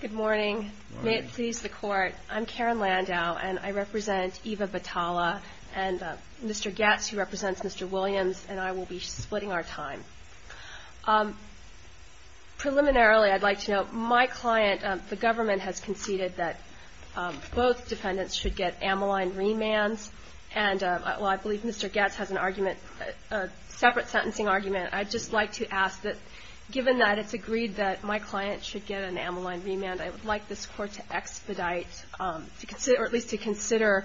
Good morning. May it please the Court, I'm Karen Landau, and I represent Eva Batalla and Mr. Getz, who represents Mr. Williams, and I will be splitting our time. Preliminarily, I'd like to note, my client, the government, has conceded that both defendants should get amyline remands, and, well, I believe Mr. Getz has an argument, a separate sentencing argument. I'd just like to ask that, given that it's agreed that my client should get an amyline remand, I would like this Court to expedite, or at least to consider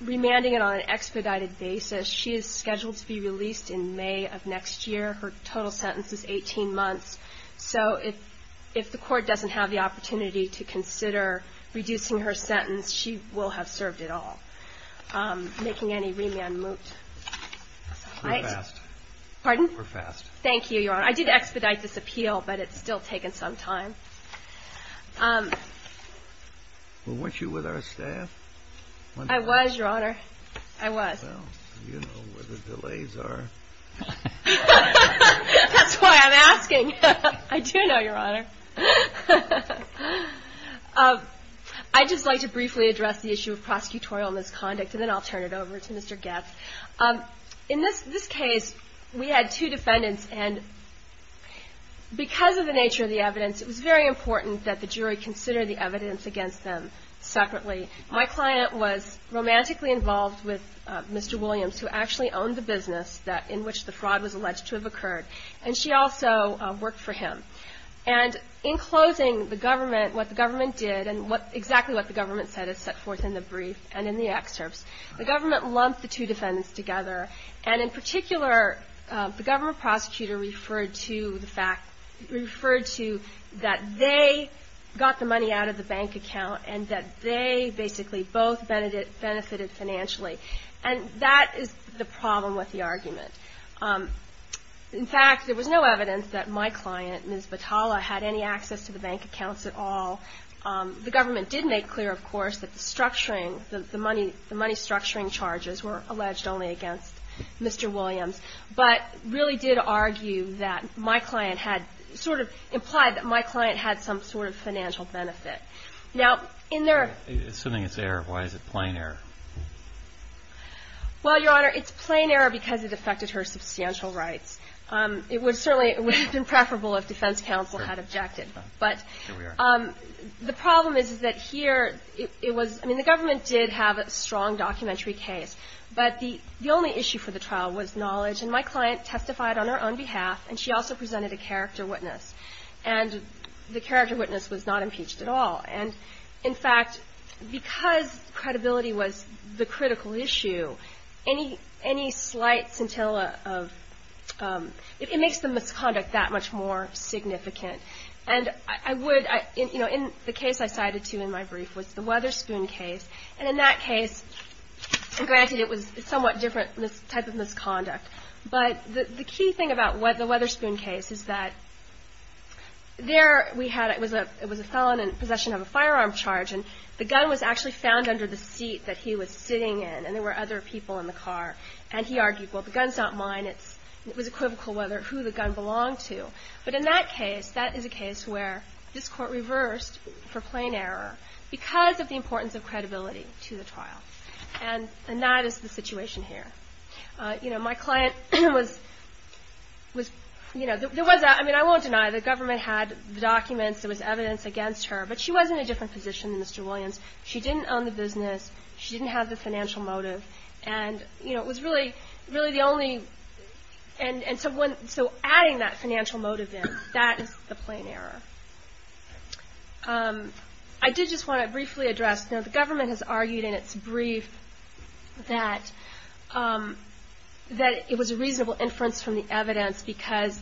remanding it on an expedited basis. She is scheduled to be released in May of next year. Her total sentence is 18 months. So if the Court doesn't have the opportunity to consider reducing her sentence, she will have served it all, making any remand moot. CHIEF JUSTICE KENNEDY We're fast. Pardon? CHIEF JUSTICE KENNEDY We're fast. KAREN LANDAU Thank you, Your Honor. I did expedite this appeal, but it's still taken some time. CHIEF JUSTICE KENNEDY Well, weren't you with our staff? KAREN LANDAU I was, Your Honor. I was. CHIEF JUSTICE KENNEDY Well, you know where the delays are. KAREN LANDAU That's why I'm asking. I do know, Your Honor. I'd just like to briefly address the issue of prosecutorial misconduct, and then I'll turn it over to Mr. Getz. In this case, we had two defendants, and because of the nature of the evidence, it was very important that the jury consider the evidence against them separately. My client was romantically involved with Mr. Williams, who actually owned the business in which the fraud was alleged to have occurred, and she also worked for him. And in closing, what the government did and exactly what the government said is set forth in the brief and in the excerpts. The government lumped the two defendants together, and in particular, the government prosecutor referred to the fact and that they basically both benefited financially, and that is the problem with the argument. In fact, there was no evidence that my client, Ms. Batalla, had any access to the bank accounts at all. The government did make clear, of course, that the money structuring charges were alleged only against Mr. Williams, but really did argue that my client had sort of implied that my client had some sort of financial benefit. Now, in their — Assuming it's error, why is it plain error? Well, Your Honor, it's plain error because it affected her substantial rights. It would certainly have been preferable if defense counsel had objected. But the problem is, is that here, it was — I mean, the government did have a strong documentary case, but the only issue for the trial was knowledge. And my client testified on her own behalf, and she also presented a character witness. And the character witness was not impeached at all. And, in fact, because credibility was the critical issue, any slight scintilla of — it makes the misconduct that much more significant. And I would — you know, the case I cited, too, in my brief was the Weatherspoon case. And in that case, granted, it was a somewhat different type of misconduct, but the key thing about the Weatherspoon case is that there we had — it was a felon in possession of a firearm charge, and the gun was actually found under the seat that he was sitting in, and there were other people in the car. And he argued, well, the gun's not mine. It was equivocal whether — who the gun belonged to. But in that case, that is a case where this court reversed for plain error because of the importance of credibility to the trial. And that is the situation here. You know, my client was — you know, there was — I mean, I won't deny the government had the documents. There was evidence against her, but she was in a different position than Mr. Williams. She didn't own the business. She didn't have the financial motive. And, you know, it was really the only — and so adding that financial motive in, that is the plain error. I did just want to briefly address — you know, the government has argued in its brief that it was a reasonable inference from the evidence because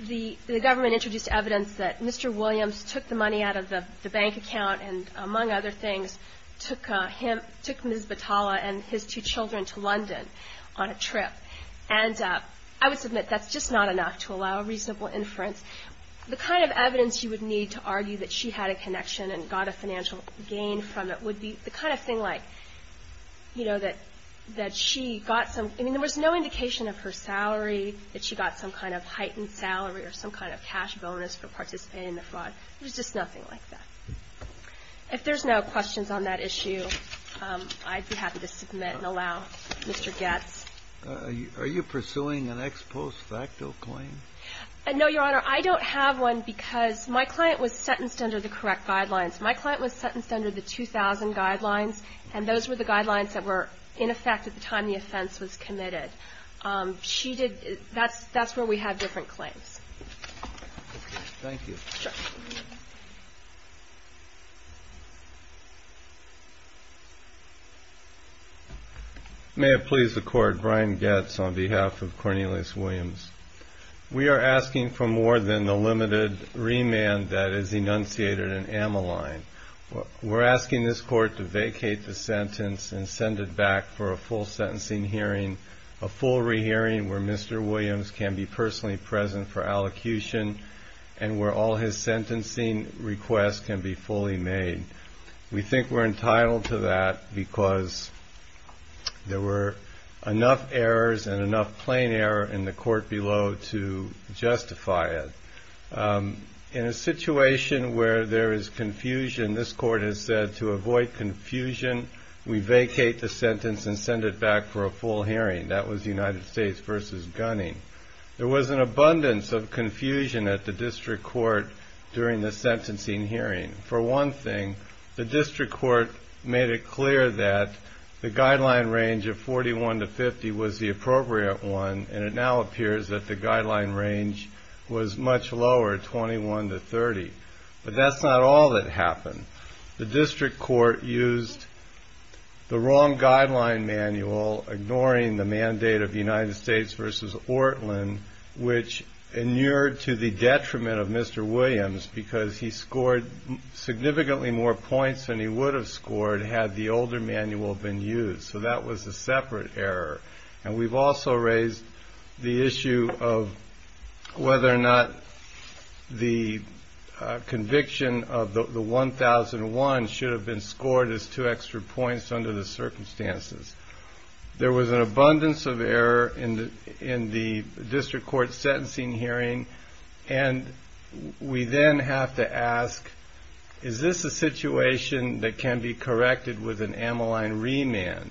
the government introduced evidence that Mr. Williams took the money out of the bank account and, among other things, took him — took Ms. Battalla and his two children to London on a trip. And I would submit that's just not enough to allow a reasonable inference. The kind of evidence you would need to argue that she had a connection and got a financial gain from it would be the kind of thing like, you know, that she got some — I mean, there was no indication of her salary, that she got some kind of heightened salary or some kind of cash bonus for participating in the fraud. It was just nothing like that. If there's no questions on that issue, I'd be happy to submit and allow Mr. Goetz. Are you pursuing an ex post facto claim? No, Your Honor. I don't have one because my client was sentenced under the correct guidelines. My client was sentenced under the 2000 guidelines, and those were the guidelines that were in effect at the time the offense was committed. She did — that's where we have different claims. Thank you. Sure. May it please the Court, Brian Goetz on behalf of Cornelius Williams. We are asking for more than the limited remand that is enunciated in Ammaline. We're asking this Court to vacate the sentence and send it back for a full sentencing hearing, a full rehearing where Mr. Williams can be personally present for allocution and where all his sentencing requests can be fully made. We think we're entitled to that because there were enough errors and enough plain error in the Court below to justify it. In a situation where there is confusion, this Court has said to avoid confusion, we vacate the sentence and send it back for a full hearing. That was the United States v. Gunning. There was an abundance of confusion at the District Court during the sentencing hearing. For one thing, the District Court made it clear that the guideline range of 41 to 50 was the appropriate one, and it now appears that the guideline range was much lower, 21 to 30. The District Court used the wrong guideline manual, ignoring the mandate of United States v. Ortlin, which inured to the detriment of Mr. Williams because he scored significantly more points than he would have scored had the older manual been used, so that was a separate error. We've also raised the issue of whether or not the conviction of the 1001 should have been scored as two extra points under the circumstances. There was an abundance of error in the District Court's sentencing hearing, and we then have to ask, is this a situation that can be corrected with an Ammaline remand?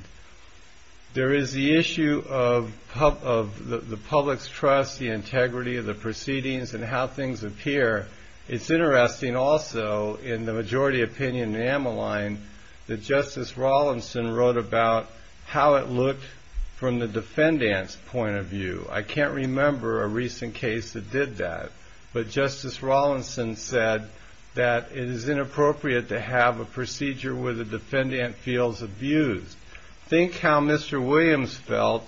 There is the issue of the public's trust, the integrity of the proceedings, and how things appear. It's interesting also, in the majority opinion in Ammaline, that Justice Rawlinson wrote about how it looked from the defendant's point of view. I can't remember a recent case that did that, but Justice Rawlinson said that it is inappropriate to have a procedure where the defendant feels abused. Think how Mr. Williams felt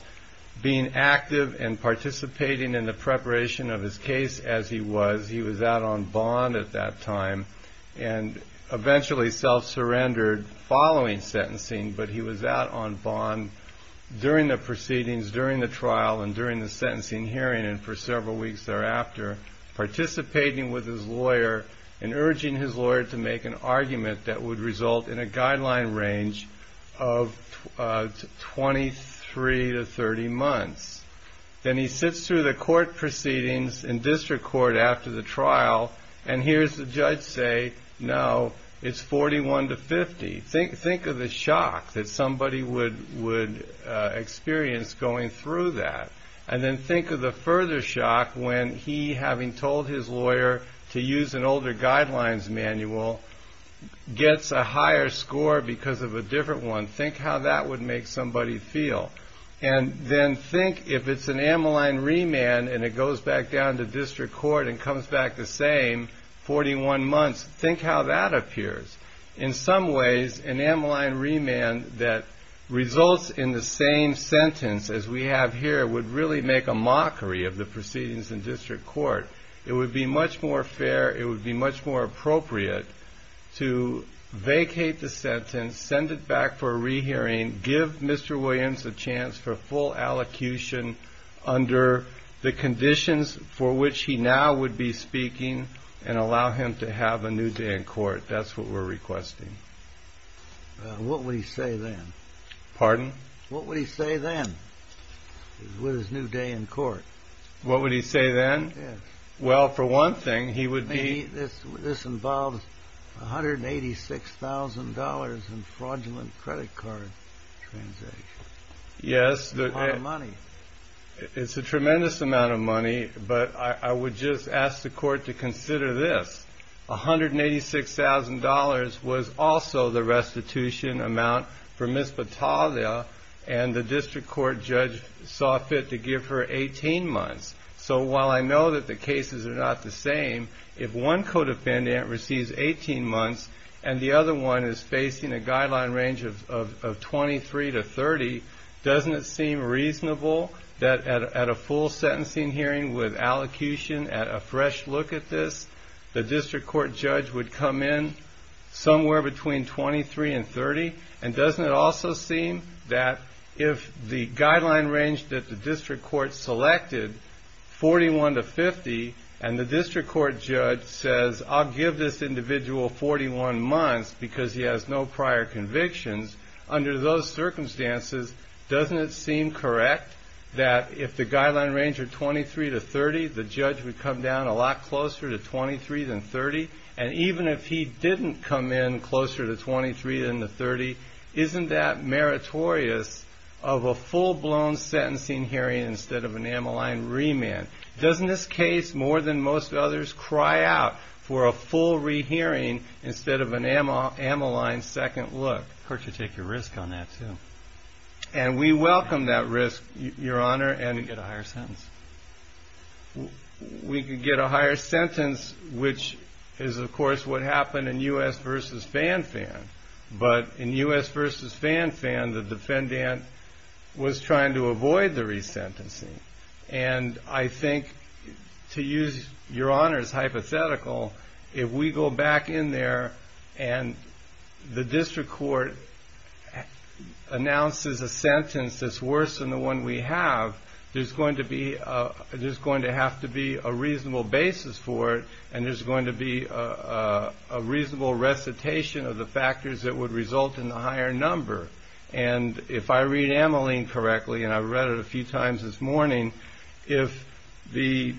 being active and participating in the preparation of his case as he was. He was out on bond at that time and eventually self-surrendered following sentencing, but he was out on bond during the proceedings, during the trial, and during the sentencing hearing, and for several weeks thereafter, participating with his lawyer and urging his lawyer to make an argument that would result in a guideline range of 23 to 30 months. Then he sits through the court proceedings in District Court after the trial, and hears the judge say, no, it's 41 to 50. Think of the shock that somebody would experience going through that, and then think of the further shock when he, having told his lawyer to use an older guidelines manual, gets a higher score because of a different one. Think how that would make somebody feel. And then think, if it's an Ammaline remand and it goes back down to District Court and comes back the same 41 months, think how that appears. In some ways, an Ammaline remand that results in the same sentence as we have here would really make a mockery of the proceedings in District Court. It would be much more fair, it would be much more appropriate to vacate the sentence, send it back for a rehearing, give Mr. Williams a chance for full allocution under the conditions for which he now would be speaking, and allow him to have a new day in court. That's what we're requesting. What would he say then? Pardon? What would he say then, with his new day in court? What would he say then? Yes. Well, for one thing, he would be... This involves $186,000 in fraudulent credit card transactions. Yes. That's a lot of money. It's a tremendous amount of money, but I would just ask the Court to consider this. $186,000 was also the restitution amount for Ms. Battaglia, and the District Court judge saw fit to give her 18 months. So while I know that the cases are not the same, if one co-defendant receives 18 months and the other one is facing a guideline range of 23 to 30, doesn't it seem reasonable that at a full sentencing hearing with allocution, at a fresh look at this, the District Court judge would come in somewhere between 23 and 30? And doesn't it also seem that if the guideline range that the District Court selected, 41 to 50, and the District Court judge says, I'll give this individual 41 months because he has no prior convictions, under those circumstances, doesn't it seem correct that if the guideline range are 23 to 30, the judge would come down a lot closer to 23 than 30? And even if he didn't come in closer to 23 than 30, isn't that meritorious of a full-blown sentencing hearing instead of an Ammaline remand? Doesn't this case, more than most others, cry out for a full rehearing instead of an Ammaline second look? The Court should take a risk on that, too. And we welcome that risk, Your Honor. And get a higher sentence. We can get a higher sentence, which is, of course, what happened in U.S. v. Fanfan. But in U.S. v. Fanfan, the defendant was trying to avoid the resentencing. And I think, to use Your Honor's hypothetical, if we go back in there and the District Court announces a sentence that's worse than the one we have, there's going to have to be a reasonable basis for it, and there's going to be a reasonable recitation of the factors that would result in a higher number. And if I read Ammaline correctly, and I read it a few times this morning, if the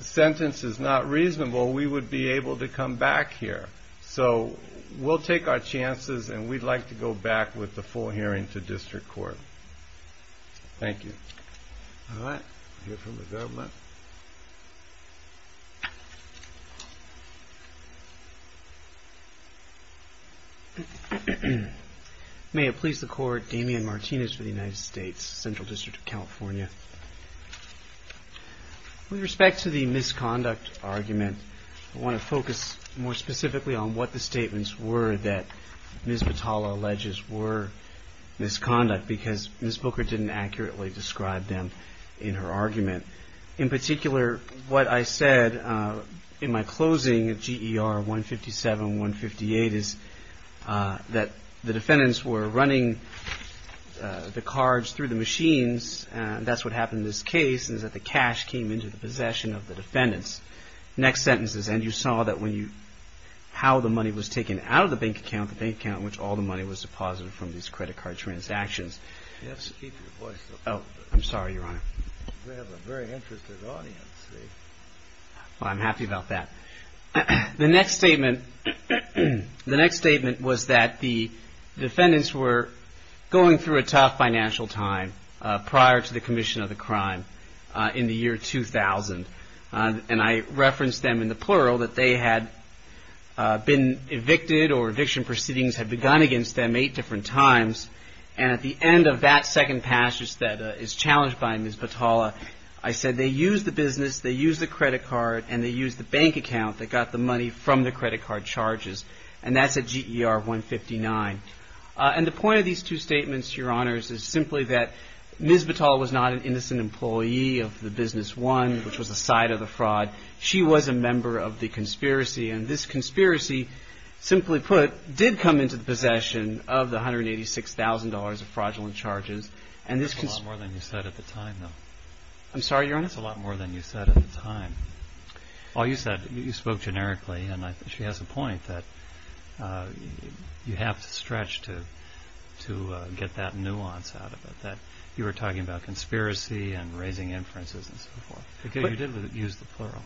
sentence is not reasonable, we would be able to come back here. So we'll take our chances, and we'd like to go back with the full hearing to District Court. Thank you. All right, we'll hear from the government. May it please the Court, Damian Martinez for the United States, Central District of California. With respect to the misconduct argument, I want to focus more specifically on what the statements were that Ms. Batalla alleges were misconduct, because Ms. Booker didn't accurately describe them in her argument. In particular, what I said in my closing at GER 157, 158, is that the defendants were running the cards through the machines, and that's what happened in this case, is that the cash came into the possession of the defendants. Next sentence is, And you saw that when you, how the money was taken out of the bank account, the bank account in which all the money was deposited from these credit card transactions. You have to keep your voice up. Oh, I'm sorry, Your Honor. We have a very interested audience. Well, I'm happy about that. The next statement was that the defendants were going through a tough financial time prior to the commission of the crime in the year 2000, and I referenced them in the plural, that they had been evicted, or eviction proceedings had begun against them eight different times, and at the end of that second passage that is challenged by Ms. Batalla, I said they used the business, they used the credit card, and they used the bank account that got the money from the credit card charges, and that's at GER 159. And the point of these two statements, Your Honors, is simply that Ms. Batalla was not an innocent employee of the business one, which was the site of the fraud. She was a member of the conspiracy, and this conspiracy, simply put, did come into the possession of the $186,000 of fraudulent charges. That's a lot more than you said at the time, though. I'm sorry, Your Honor? That's a lot more than you said at the time. All you said, you spoke generically, and she has a point that you have to stretch to get that nuance out of it, that you were talking about conspiracy and raising inferences and so forth. You did use the plural.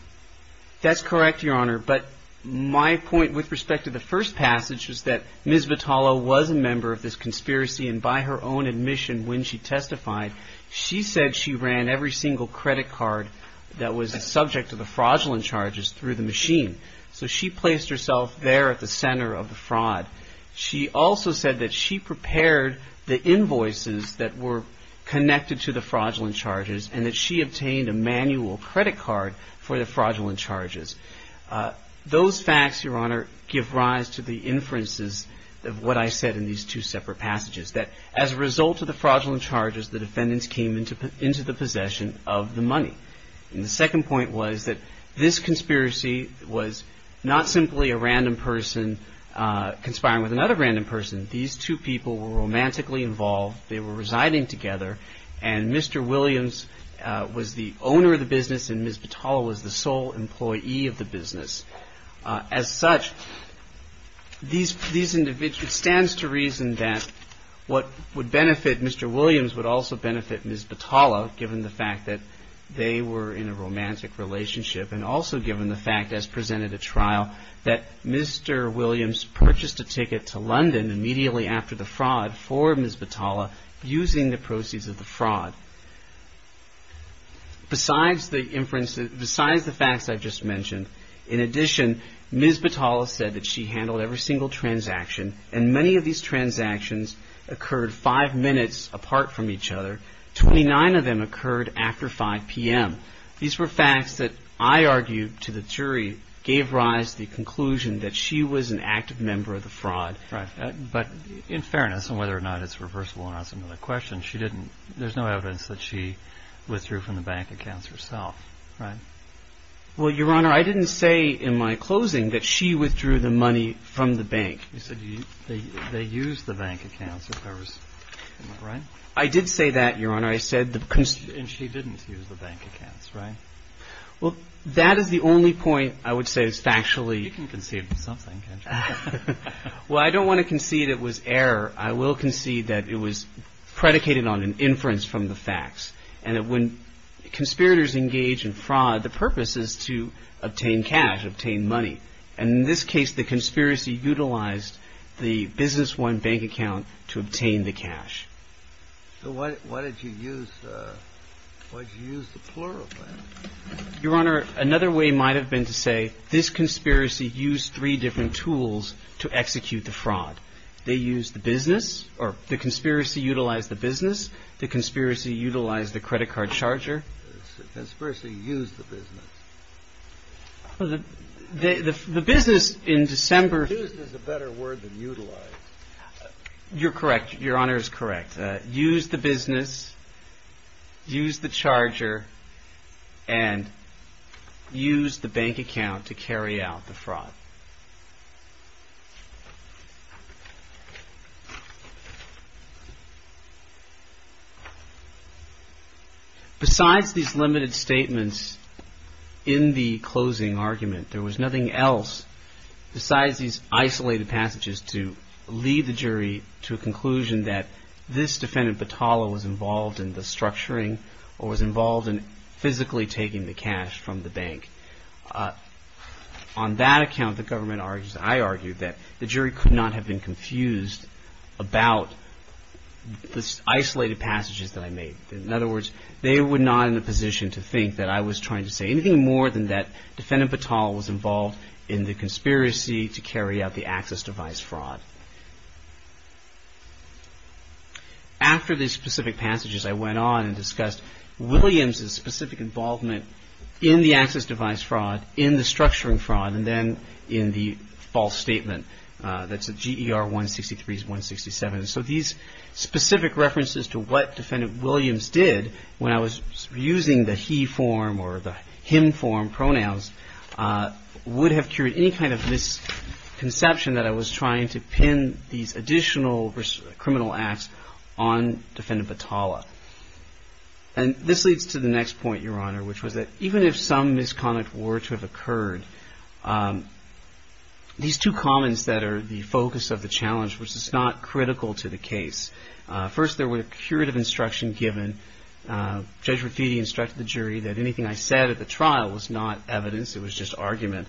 That's correct, Your Honor, but my point with respect to the first passage is that Ms. Batalla was a member of this conspiracy, and by her own admission when she testified, she said she ran every single credit card that was subject to the fraudulent charges through the machine. So she placed herself there at the center of the fraud. She also said that she prepared the invoices that were connected to the fraudulent charges and that she obtained a manual credit card for the fraudulent charges. Those facts, Your Honor, give rise to the inferences of what I said in these two separate passages, that as a result of the fraudulent charges, the defendants came into the possession of the money. The second point was that this conspiracy was not simply a random person conspiring with another random person. These two people were romantically involved. They were residing together, and Mr. Williams was the owner of the business, and Ms. Batalla was the sole employee of the business. As such, it stands to reason that what would benefit Mr. Williams would also benefit Ms. Batalla, given the fact that they were in a romantic relationship, and also given the fact, as presented at trial, that Mr. Williams purchased a ticket to London immediately after the fraud for Ms. Batalla using the proceeds of the fraud. Besides the facts I've just mentioned, in addition, Ms. Batalla said that she handled every single transaction, and many of these transactions occurred five minutes apart from each other. Twenty-nine of them occurred after 5 p.m. These were facts that I argue to the jury gave rise to the conclusion that she was an active member of the fraud. Right. But in fairness, and whether or not it's reversible or not is another question, she didn't – there's no evidence that she withdrew from the bank accounts herself, right? Well, Your Honor, I didn't say in my closing that she withdrew the money from the bank. I did say that, Your Honor. I said the – And she didn't use the bank accounts, right? Well, that is the only point I would say is factually – You can concede something, can't you? Well, I don't want to concede it was error. I will concede that it was predicated on an inference from the facts, and that when conspirators engage in fraud, the purpose is to obtain cash, obtain money. And in this case, the conspiracy utilized the Business I bank account to obtain the cash. So what did you use – what did you use to plural that? Your Honor, another way might have been to say this conspiracy used three different tools to execute the fraud. They used the business – or the conspiracy utilized the business. The conspiracy utilized the credit card charger. The conspiracy used the business. Well, the business in December – Used is a better word than utilized. You're correct. Your Honor is correct. Used the business, used the charger, and used the bank account to carry out the fraud. Besides these limited statements in the closing argument, there was nothing else besides these isolated passages to lead the jury to a conclusion that this defendant, Batala, was involved in the structuring or was involved in physically taking the cash from the bank. On that account, the government argues – I argue that the jury could not have been confused about the isolated passages that I made. In other words, they were not in a position to think that I was trying to say anything more than that defendant Batala was involved in the conspiracy to carry out the access device fraud. After the specific passages, I went on and discussed Williams' specific involvement in the access device fraud, in the structuring fraud, and then in the false statement. That's at GER 163s, 167s. So these specific references to what defendant Williams did when I was using the he form or the him form pronouns would have cured any kind of misconception that I was trying to pin these additional criminal acts on defendant Batala. And this leads to the next point, Your Honor, which was that even if some misconduct were to have occurred, these two comments that are the focus of the challenge, which is not critical to the case. First, there were curative instruction given. Judge Raffitti instructed the jury that anything I said at the trial was not evidence. It was just argument.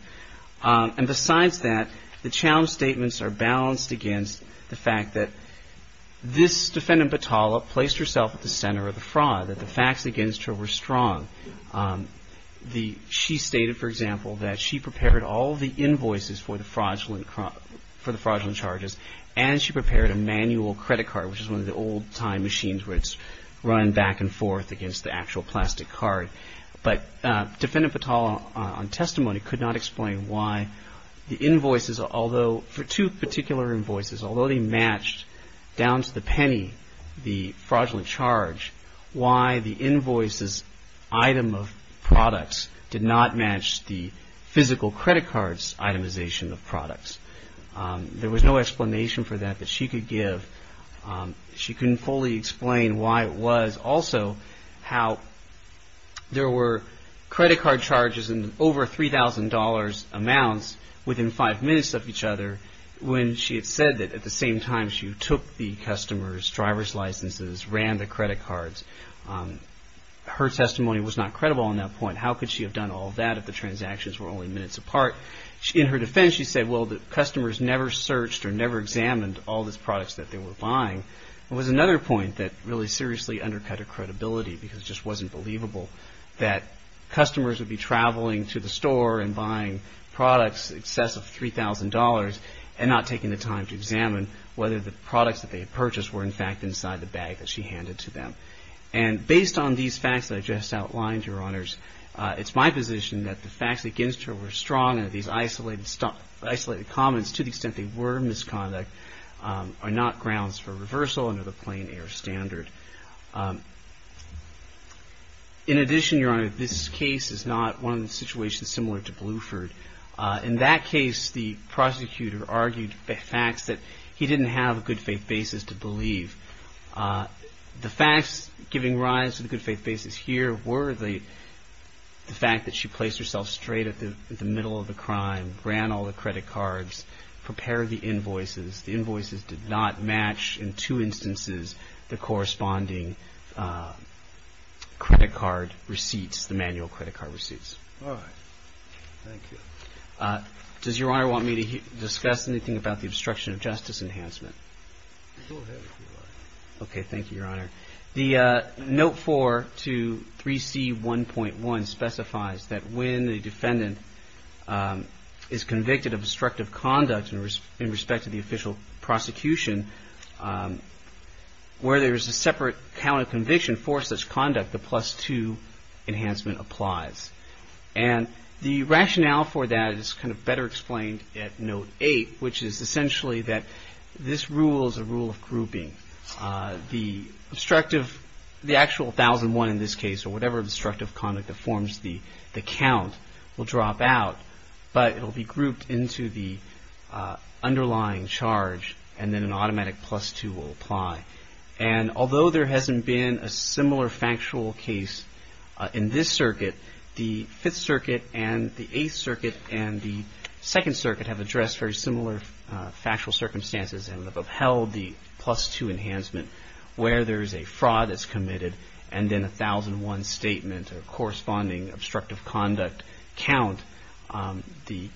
And besides that, the challenge statements are balanced against the fact that this defendant Batala placed herself at the center of the fraud, that the facts against her were strong. She stated, for example, that she prepared all the invoices for the fraudulent charges and she prepared a manual credit card, which is one of the old-time machines where it's run back and forth against the actual plastic card. But defendant Batala on testimony could not explain why the invoices, although for two particular invoices, although they matched down to the penny, the fraudulent charge, why the invoices item of products did not match the physical credit card's itemization of products. There was no explanation for that that she could give. She couldn't fully explain why it was. Also, how there were credit card charges in over $3,000 amounts within five minutes of each other when she had said that at the same time she took the customer's driver's licenses, ran the credit cards. Her testimony was not credible on that point. How could she have done all that if the transactions were only minutes apart? In her defense, she said, well, the customers never searched or never examined all these products that they were buying. It was another point that really seriously undercut her credibility because it just wasn't believable that customers would be traveling to the store and buying products in excess of $3,000 and not taking the time to examine whether the products that they had purchased were, in fact, inside the bag that she handed to them. And based on these facts that I just outlined, Your Honors, it's my position that the facts against her were strong and that these isolated comments, to the extent they were misconduct, are not grounds for reversal under the plain air standard. In addition, Your Honor, this case is not one of the situations similar to Bluford. In that case, the prosecutor argued the facts that he didn't have a good faith basis to believe. The facts giving rise to the good faith basis here were the fact that she placed herself straight at the middle of the crime, ran all the credit cards, prepared the invoices. The invoices did not match in two instances the corresponding credit card receipts, the manual credit card receipts. All right. Thank you. Does Your Honor want me to discuss anything about the obstruction of justice enhancement? Go ahead, if you like. Okay. Thank you, Your Honor. The Note 4 to 3C1.1 specifies that when the defendant is convicted of obstructive conduct in respect to the official prosecution, where there is a separate count of conviction for such conduct, the plus 2 enhancement applies. And the rationale for that is kind of better explained at Note 8, which is essentially that this rule is a rule of grouping. The actual 1,001 in this case or whatever obstructive conduct that forms the count will drop out, but it will be grouped into the underlying charge and then an automatic plus 2 will apply. And although there hasn't been a similar factual case in this circuit, the Fifth Circuit and the Eighth Circuit and the Second Circuit have addressed very similar factual circumstances and have upheld the plus 2 enhancement where there is a fraud that's committed and then a 1,001 statement or corresponding obstructive conduct count, the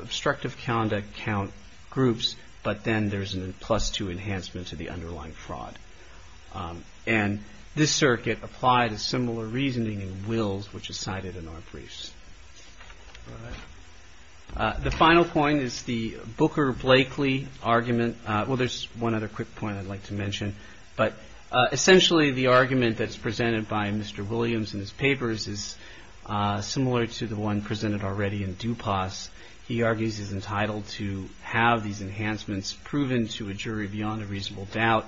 obstructive conduct count groups, but then there's a plus 2 enhancement to the underlying fraud. And this circuit applied a similar reasoning in Wills, which is cited in our briefs. The final point is the Booker-Blakely argument. Well, there's one other quick point I'd like to mention, but essentially the argument that's presented by Mr. Williams in his papers is similar to the one presented already in DuPas. He argues he's entitled to have these enhancements proven to a jury beyond a reasonable doubt.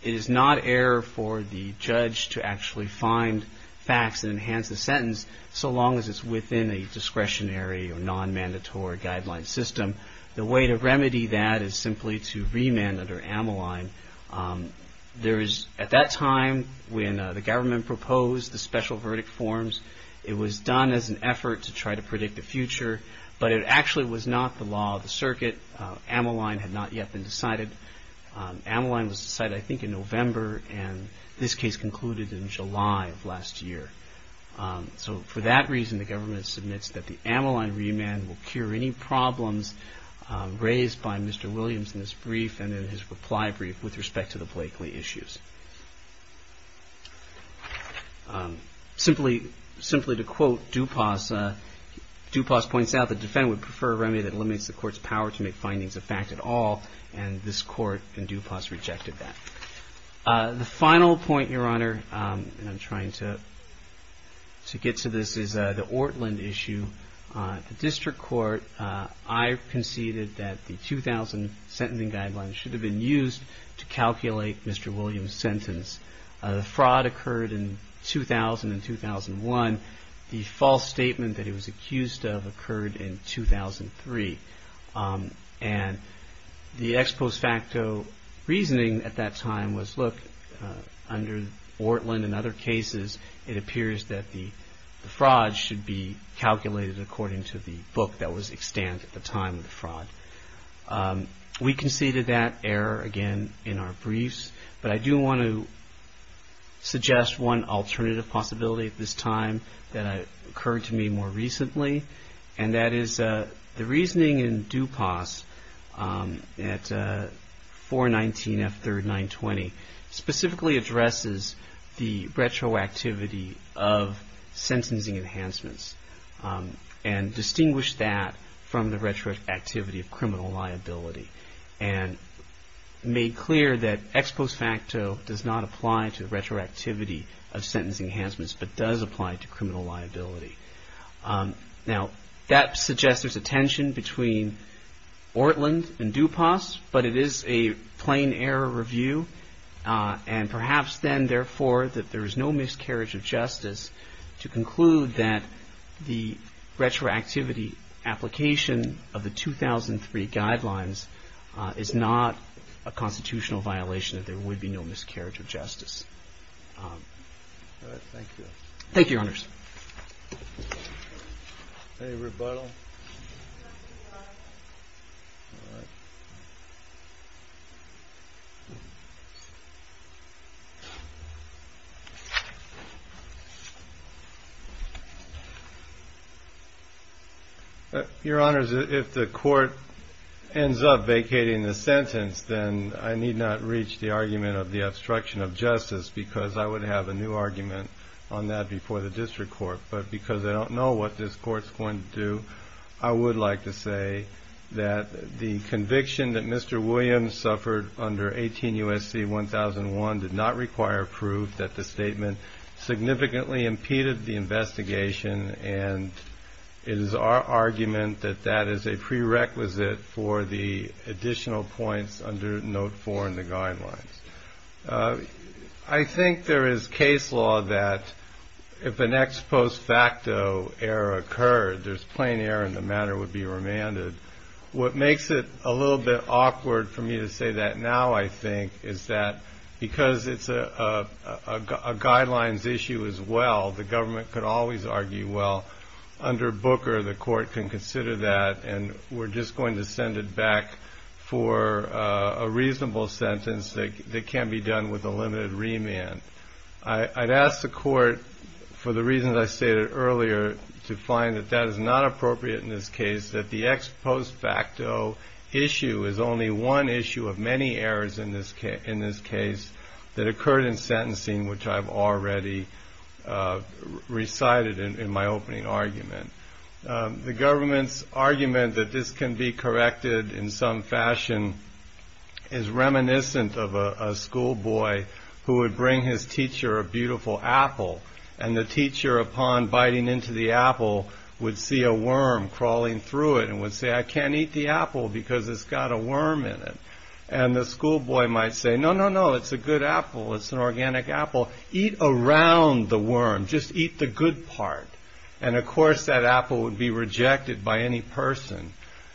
It is not error for the judge to actually find facts and enhance the sentence, so long as it's within a discretionary or non-mandatory guideline system. The way to remedy that is simply to remand under Ammoline. At that time when the government proposed the special verdict forms, it was done as an effort to try to predict the future, but it actually was not the law of the circuit. Ammoline had not yet been decided. Ammoline was decided, I think, in November, and this case concluded in July of last year. So for that reason, the government submits that the Ammoline remand will cure any problems raised by Mr. Williams in his brief and in his reply brief with respect to the Blakely issues. Simply to quote DuPas, DuPas points out, the defendant would prefer a remedy that limits the court's power to make findings a fact at all, and this court in DuPas rejected that. The final point, Your Honor, and I'm trying to get to this, is the Ortland issue. The district court, I conceded that the 2000 sentencing guidelines should have been used to calculate Mr. Williams' sentence. The fraud occurred in 2000 and 2001. The false statement that he was accused of occurred in 2003. And the ex post facto reasoning at that time was, look, under Ortland and other cases, it appears that the fraud should be calculated according to the book that was extant at the time of the fraud. We conceded that error again in our briefs, but I do want to suggest one alternative possibility at this time that occurred to me more recently, and that is the reasoning in DuPas at 419F3rd 920 specifically addresses the retroactivity of sentencing enhancements and distinguished that from the retroactivity of criminal liability. And made clear that ex post facto does not apply to retroactivity of sentencing enhancements, but does apply to criminal liability. Now, that suggests there's a tension between Ortland and DuPas, but it is a plain error review. And perhaps then, therefore, that there is no miscarriage of justice to conclude that the retroactivity application of the 2003 guidelines is not a constitutional violation, that there would be no miscarriage of justice. All right. Thank you. Thank you, Your Honors. Your Honors, if the Court ends up vacating the sentence, then I need not reach the argument of the obstruction of justice. Because I would have a new argument on that before the District Court. But because I don't know what this Court's going to do, I would like to say that the conviction that Mr. Williams suffered under 18 U.S.C. 1001 did not require proof that the statement significantly impeded the investigation. And it is our argument that that is a prerequisite for the additional points under Note 4 in the guidelines. I think there is case law that if an ex post facto error occurred, there's plain error and the matter would be remanded. What makes it a little bit awkward for me to say that now, I think, is that because it's a guidelines issue as well, the government could always argue, well, under Booker, the Court can consider that and we're just going to send it back for a reasonable sentence that can be done with a limited remand. I'd ask the Court, for the reasons I stated earlier, to find that that is not appropriate in this case, that the ex post facto issue is only one issue of many errors in this case that occurred in sentencing, which I've already recited in my opening argument. The government's argument that this can be corrected in some fashion is reminiscent of a school boy who would bring his teacher a beautiful apple and the teacher, upon biting into the apple, would see a worm crawling through it and would say, I can't eat the apple because it's got a worm in it. And the school boy might say, no, no, no, it's a good apple. It's an organic apple. Eat around the worm. Just eat the good part. And, of course, that apple would be rejected by any person.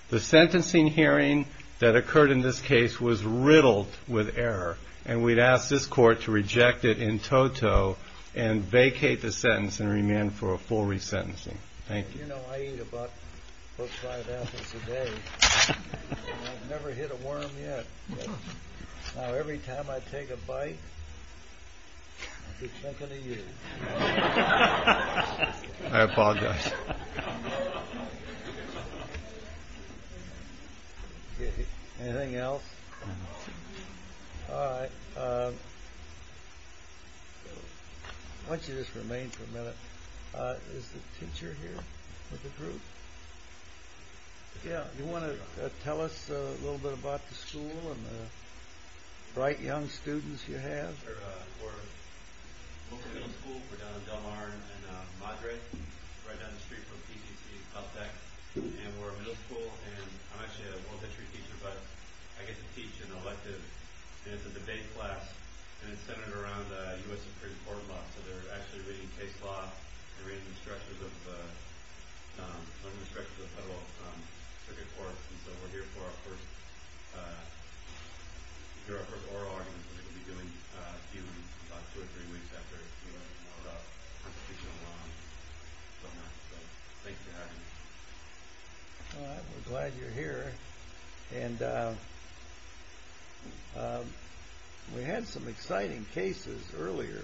The sentencing hearing that occurred in this case was riddled with error, and we'd ask this Court to reject it in toto and vacate the sentence and remand for a full resentencing. Thank you. You know, I eat about five apples a day. I've never hit a worm yet. Now, every time I take a bite, I keep thinking of you. I apologize. Anything else? All right. I want you to just remain for a minute. Is the teacher here with the group? Yeah. Do you want to tell us a little bit about the school and the bright young students you have? We're a middle school. We're down in Del Mar and Madre, right down the street from PCC. And we're a middle school, and I'm actually a world history teacher, but I get to teach an elective. And it's a debate class, and it's centered around U.S. Supreme Court law, so they're actually reading case law and reading the structures of the Federal Circuit Court. And so we're here for our first oral argument. We're glad you're here. And we had some exciting cases earlier.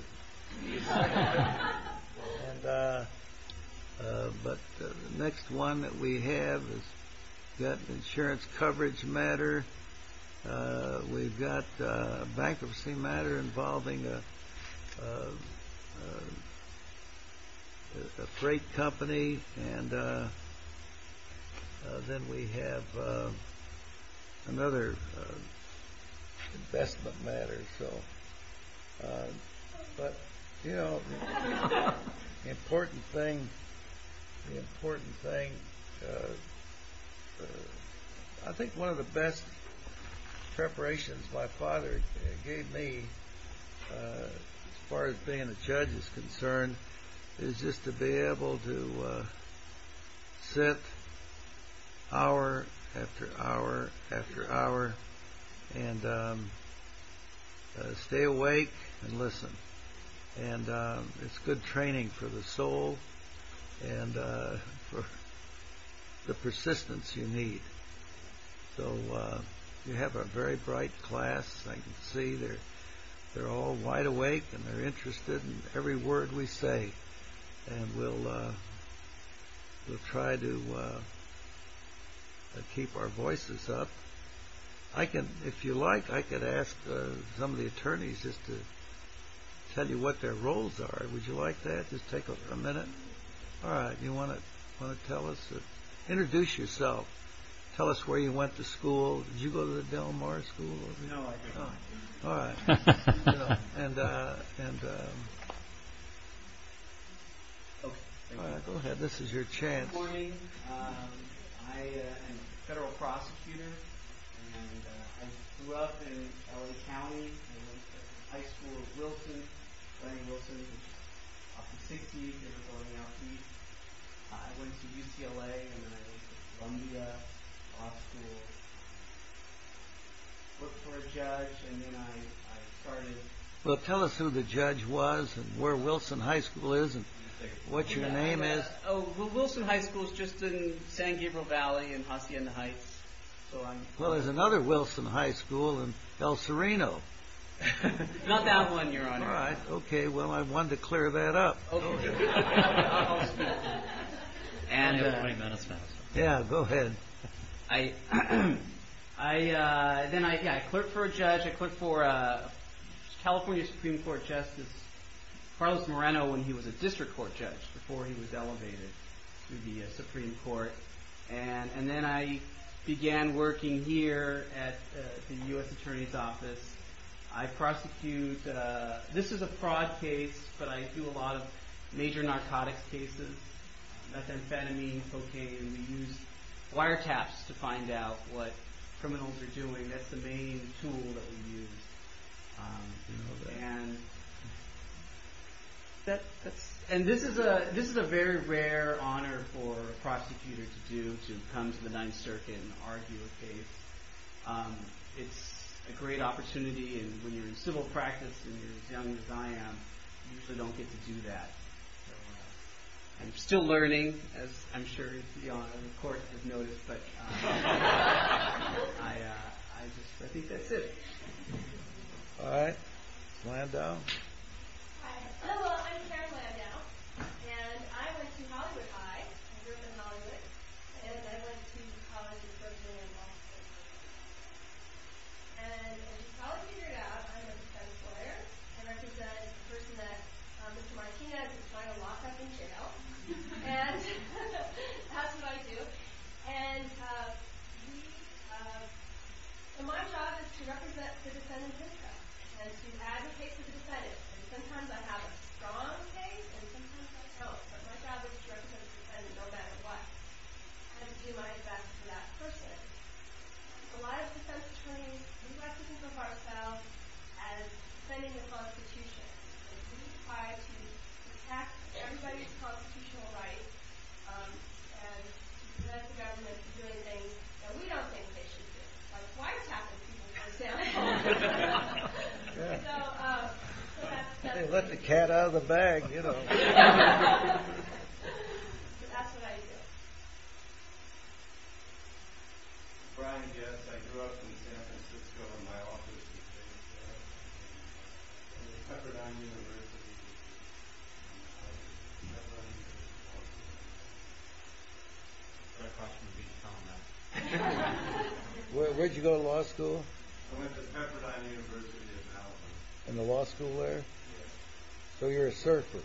But the next one that we have is that insurance coverage matter. We've got a bankruptcy matter involving a freight company, and then we have another investment matter. But, you know, the important thing, I think one of the best preparations my father gave me as far as being a judge is concerned is just to be able to sit hour after hour after hour and stay awake and listen. And it's good training for the soul and for the persistence you need. So you have a very bright class. I can see they're all wide awake and they're interested in every word we say. And we'll try to keep our voices up. If you like, I could ask some of the attorneys just to tell you what their roles are. Would you like that? Just take a minute. Introduce yourself. Tell us where you went to school. Did you go to the Del Mar School? No, I did not. All right. Go ahead. This is your chance. Well, tell us who the judge was and where Wilson High School is and what your name is. Wilson High School is just in San Gabriel Valley in Hacienda Heights. Well, there's another Wilson High School in El Sereno. Not that one, Your Honor. All right. Okay. Well, I wanted to clear that up. Yeah, go ahead. I clerked for a judge. I clerked for California Supreme Court Justice Carlos Moreno when he was a district court judge before he was elevated to the Supreme Court. And then I began working here at the U.S. Attorney's Office. I prosecute. This is a fraud case, but I do a lot of major narcotics cases. Methamphetamine, cocaine. We use wiretaps to find out what criminals are doing. And this is a very rare honor for a prosecutor to do, to come to the Ninth Circuit and argue a case. It's a great opportunity, and when you're in civil practice and you're as young as I am, you usually don't get to do that. I'm still learning, as I'm sure the Court has noticed. But I think that's it. All right. Landau. Hello. I'm Sharon Landau, and I went to Hollywood High. I grew up in Hollywood. And I went to college in Ferguson and Washington. And in college I did my job. I'm a defense lawyer. I represent the person that Mr. Martinez is trying to lock up in jail. And that's what I do. So my job is to represent the defendant's interests and to advocate for the defendant. And sometimes I have a strong case, and sometimes I don't. But my job is to represent the defendant, no matter what, and to do my best for that person. A lot of defense attorneys, we like to think of ourselves as defending the Constitution. We try to protect everybody's constitutional rights and to prevent the government from doing things that we don't think they should be doing. My wife's half the people in my family. They let the cat out of the bag, you know. That's what I do. Brian Guess. I grew up in San Francisco in my office. Pepperdine University. Where'd you go to law school? I went to Pepperdine University in Alabama. In the law school there? So you're a surfer?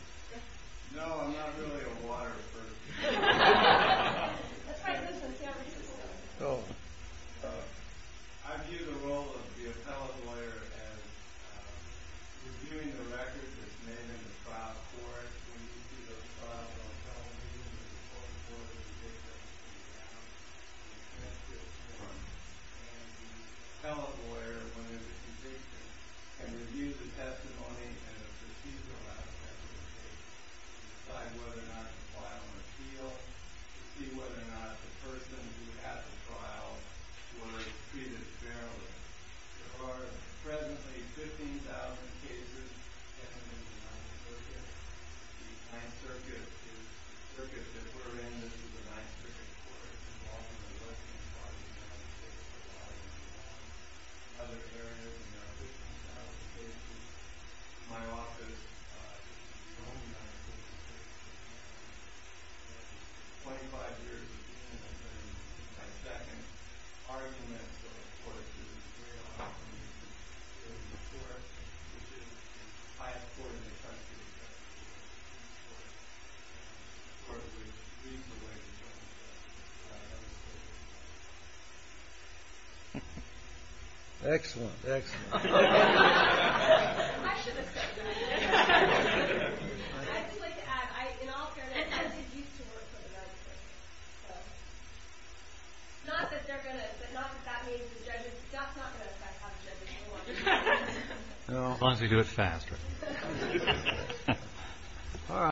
No, I'm not really a water surfer. Let's try to do this in San Francisco. I view the role of the appellate lawyer as reviewing the records that's made in the trial court. When you see those trials on television, it's always important to take those things down and connect to the court. And the appellate lawyer, when there's a conviction, can review the testimony and the procedure to decide whether or not the trial was real, to see whether or not the person who had the trial was treated fairly. There are presently 15,000 cases. The 9th Circuit is the circuit that we're in. This is the 9th Circuit Court. This is the 9th Circuit Court. My office is the only 9th Circuit Court in the United States. 25 years of experience in the 9th Circuit Court. My argument is that in order to get a trial, you need to get a report. I have a court in the country that does that for me. It's part of the reason why I'm here. Excellent, excellent. I should have said that. I'd just like to add, in all fairness, I did used to work for the 9th Circuit. Not that they're going to, but not that that means the judges. That's not going to affect how the judges do it. As long as they do it faster.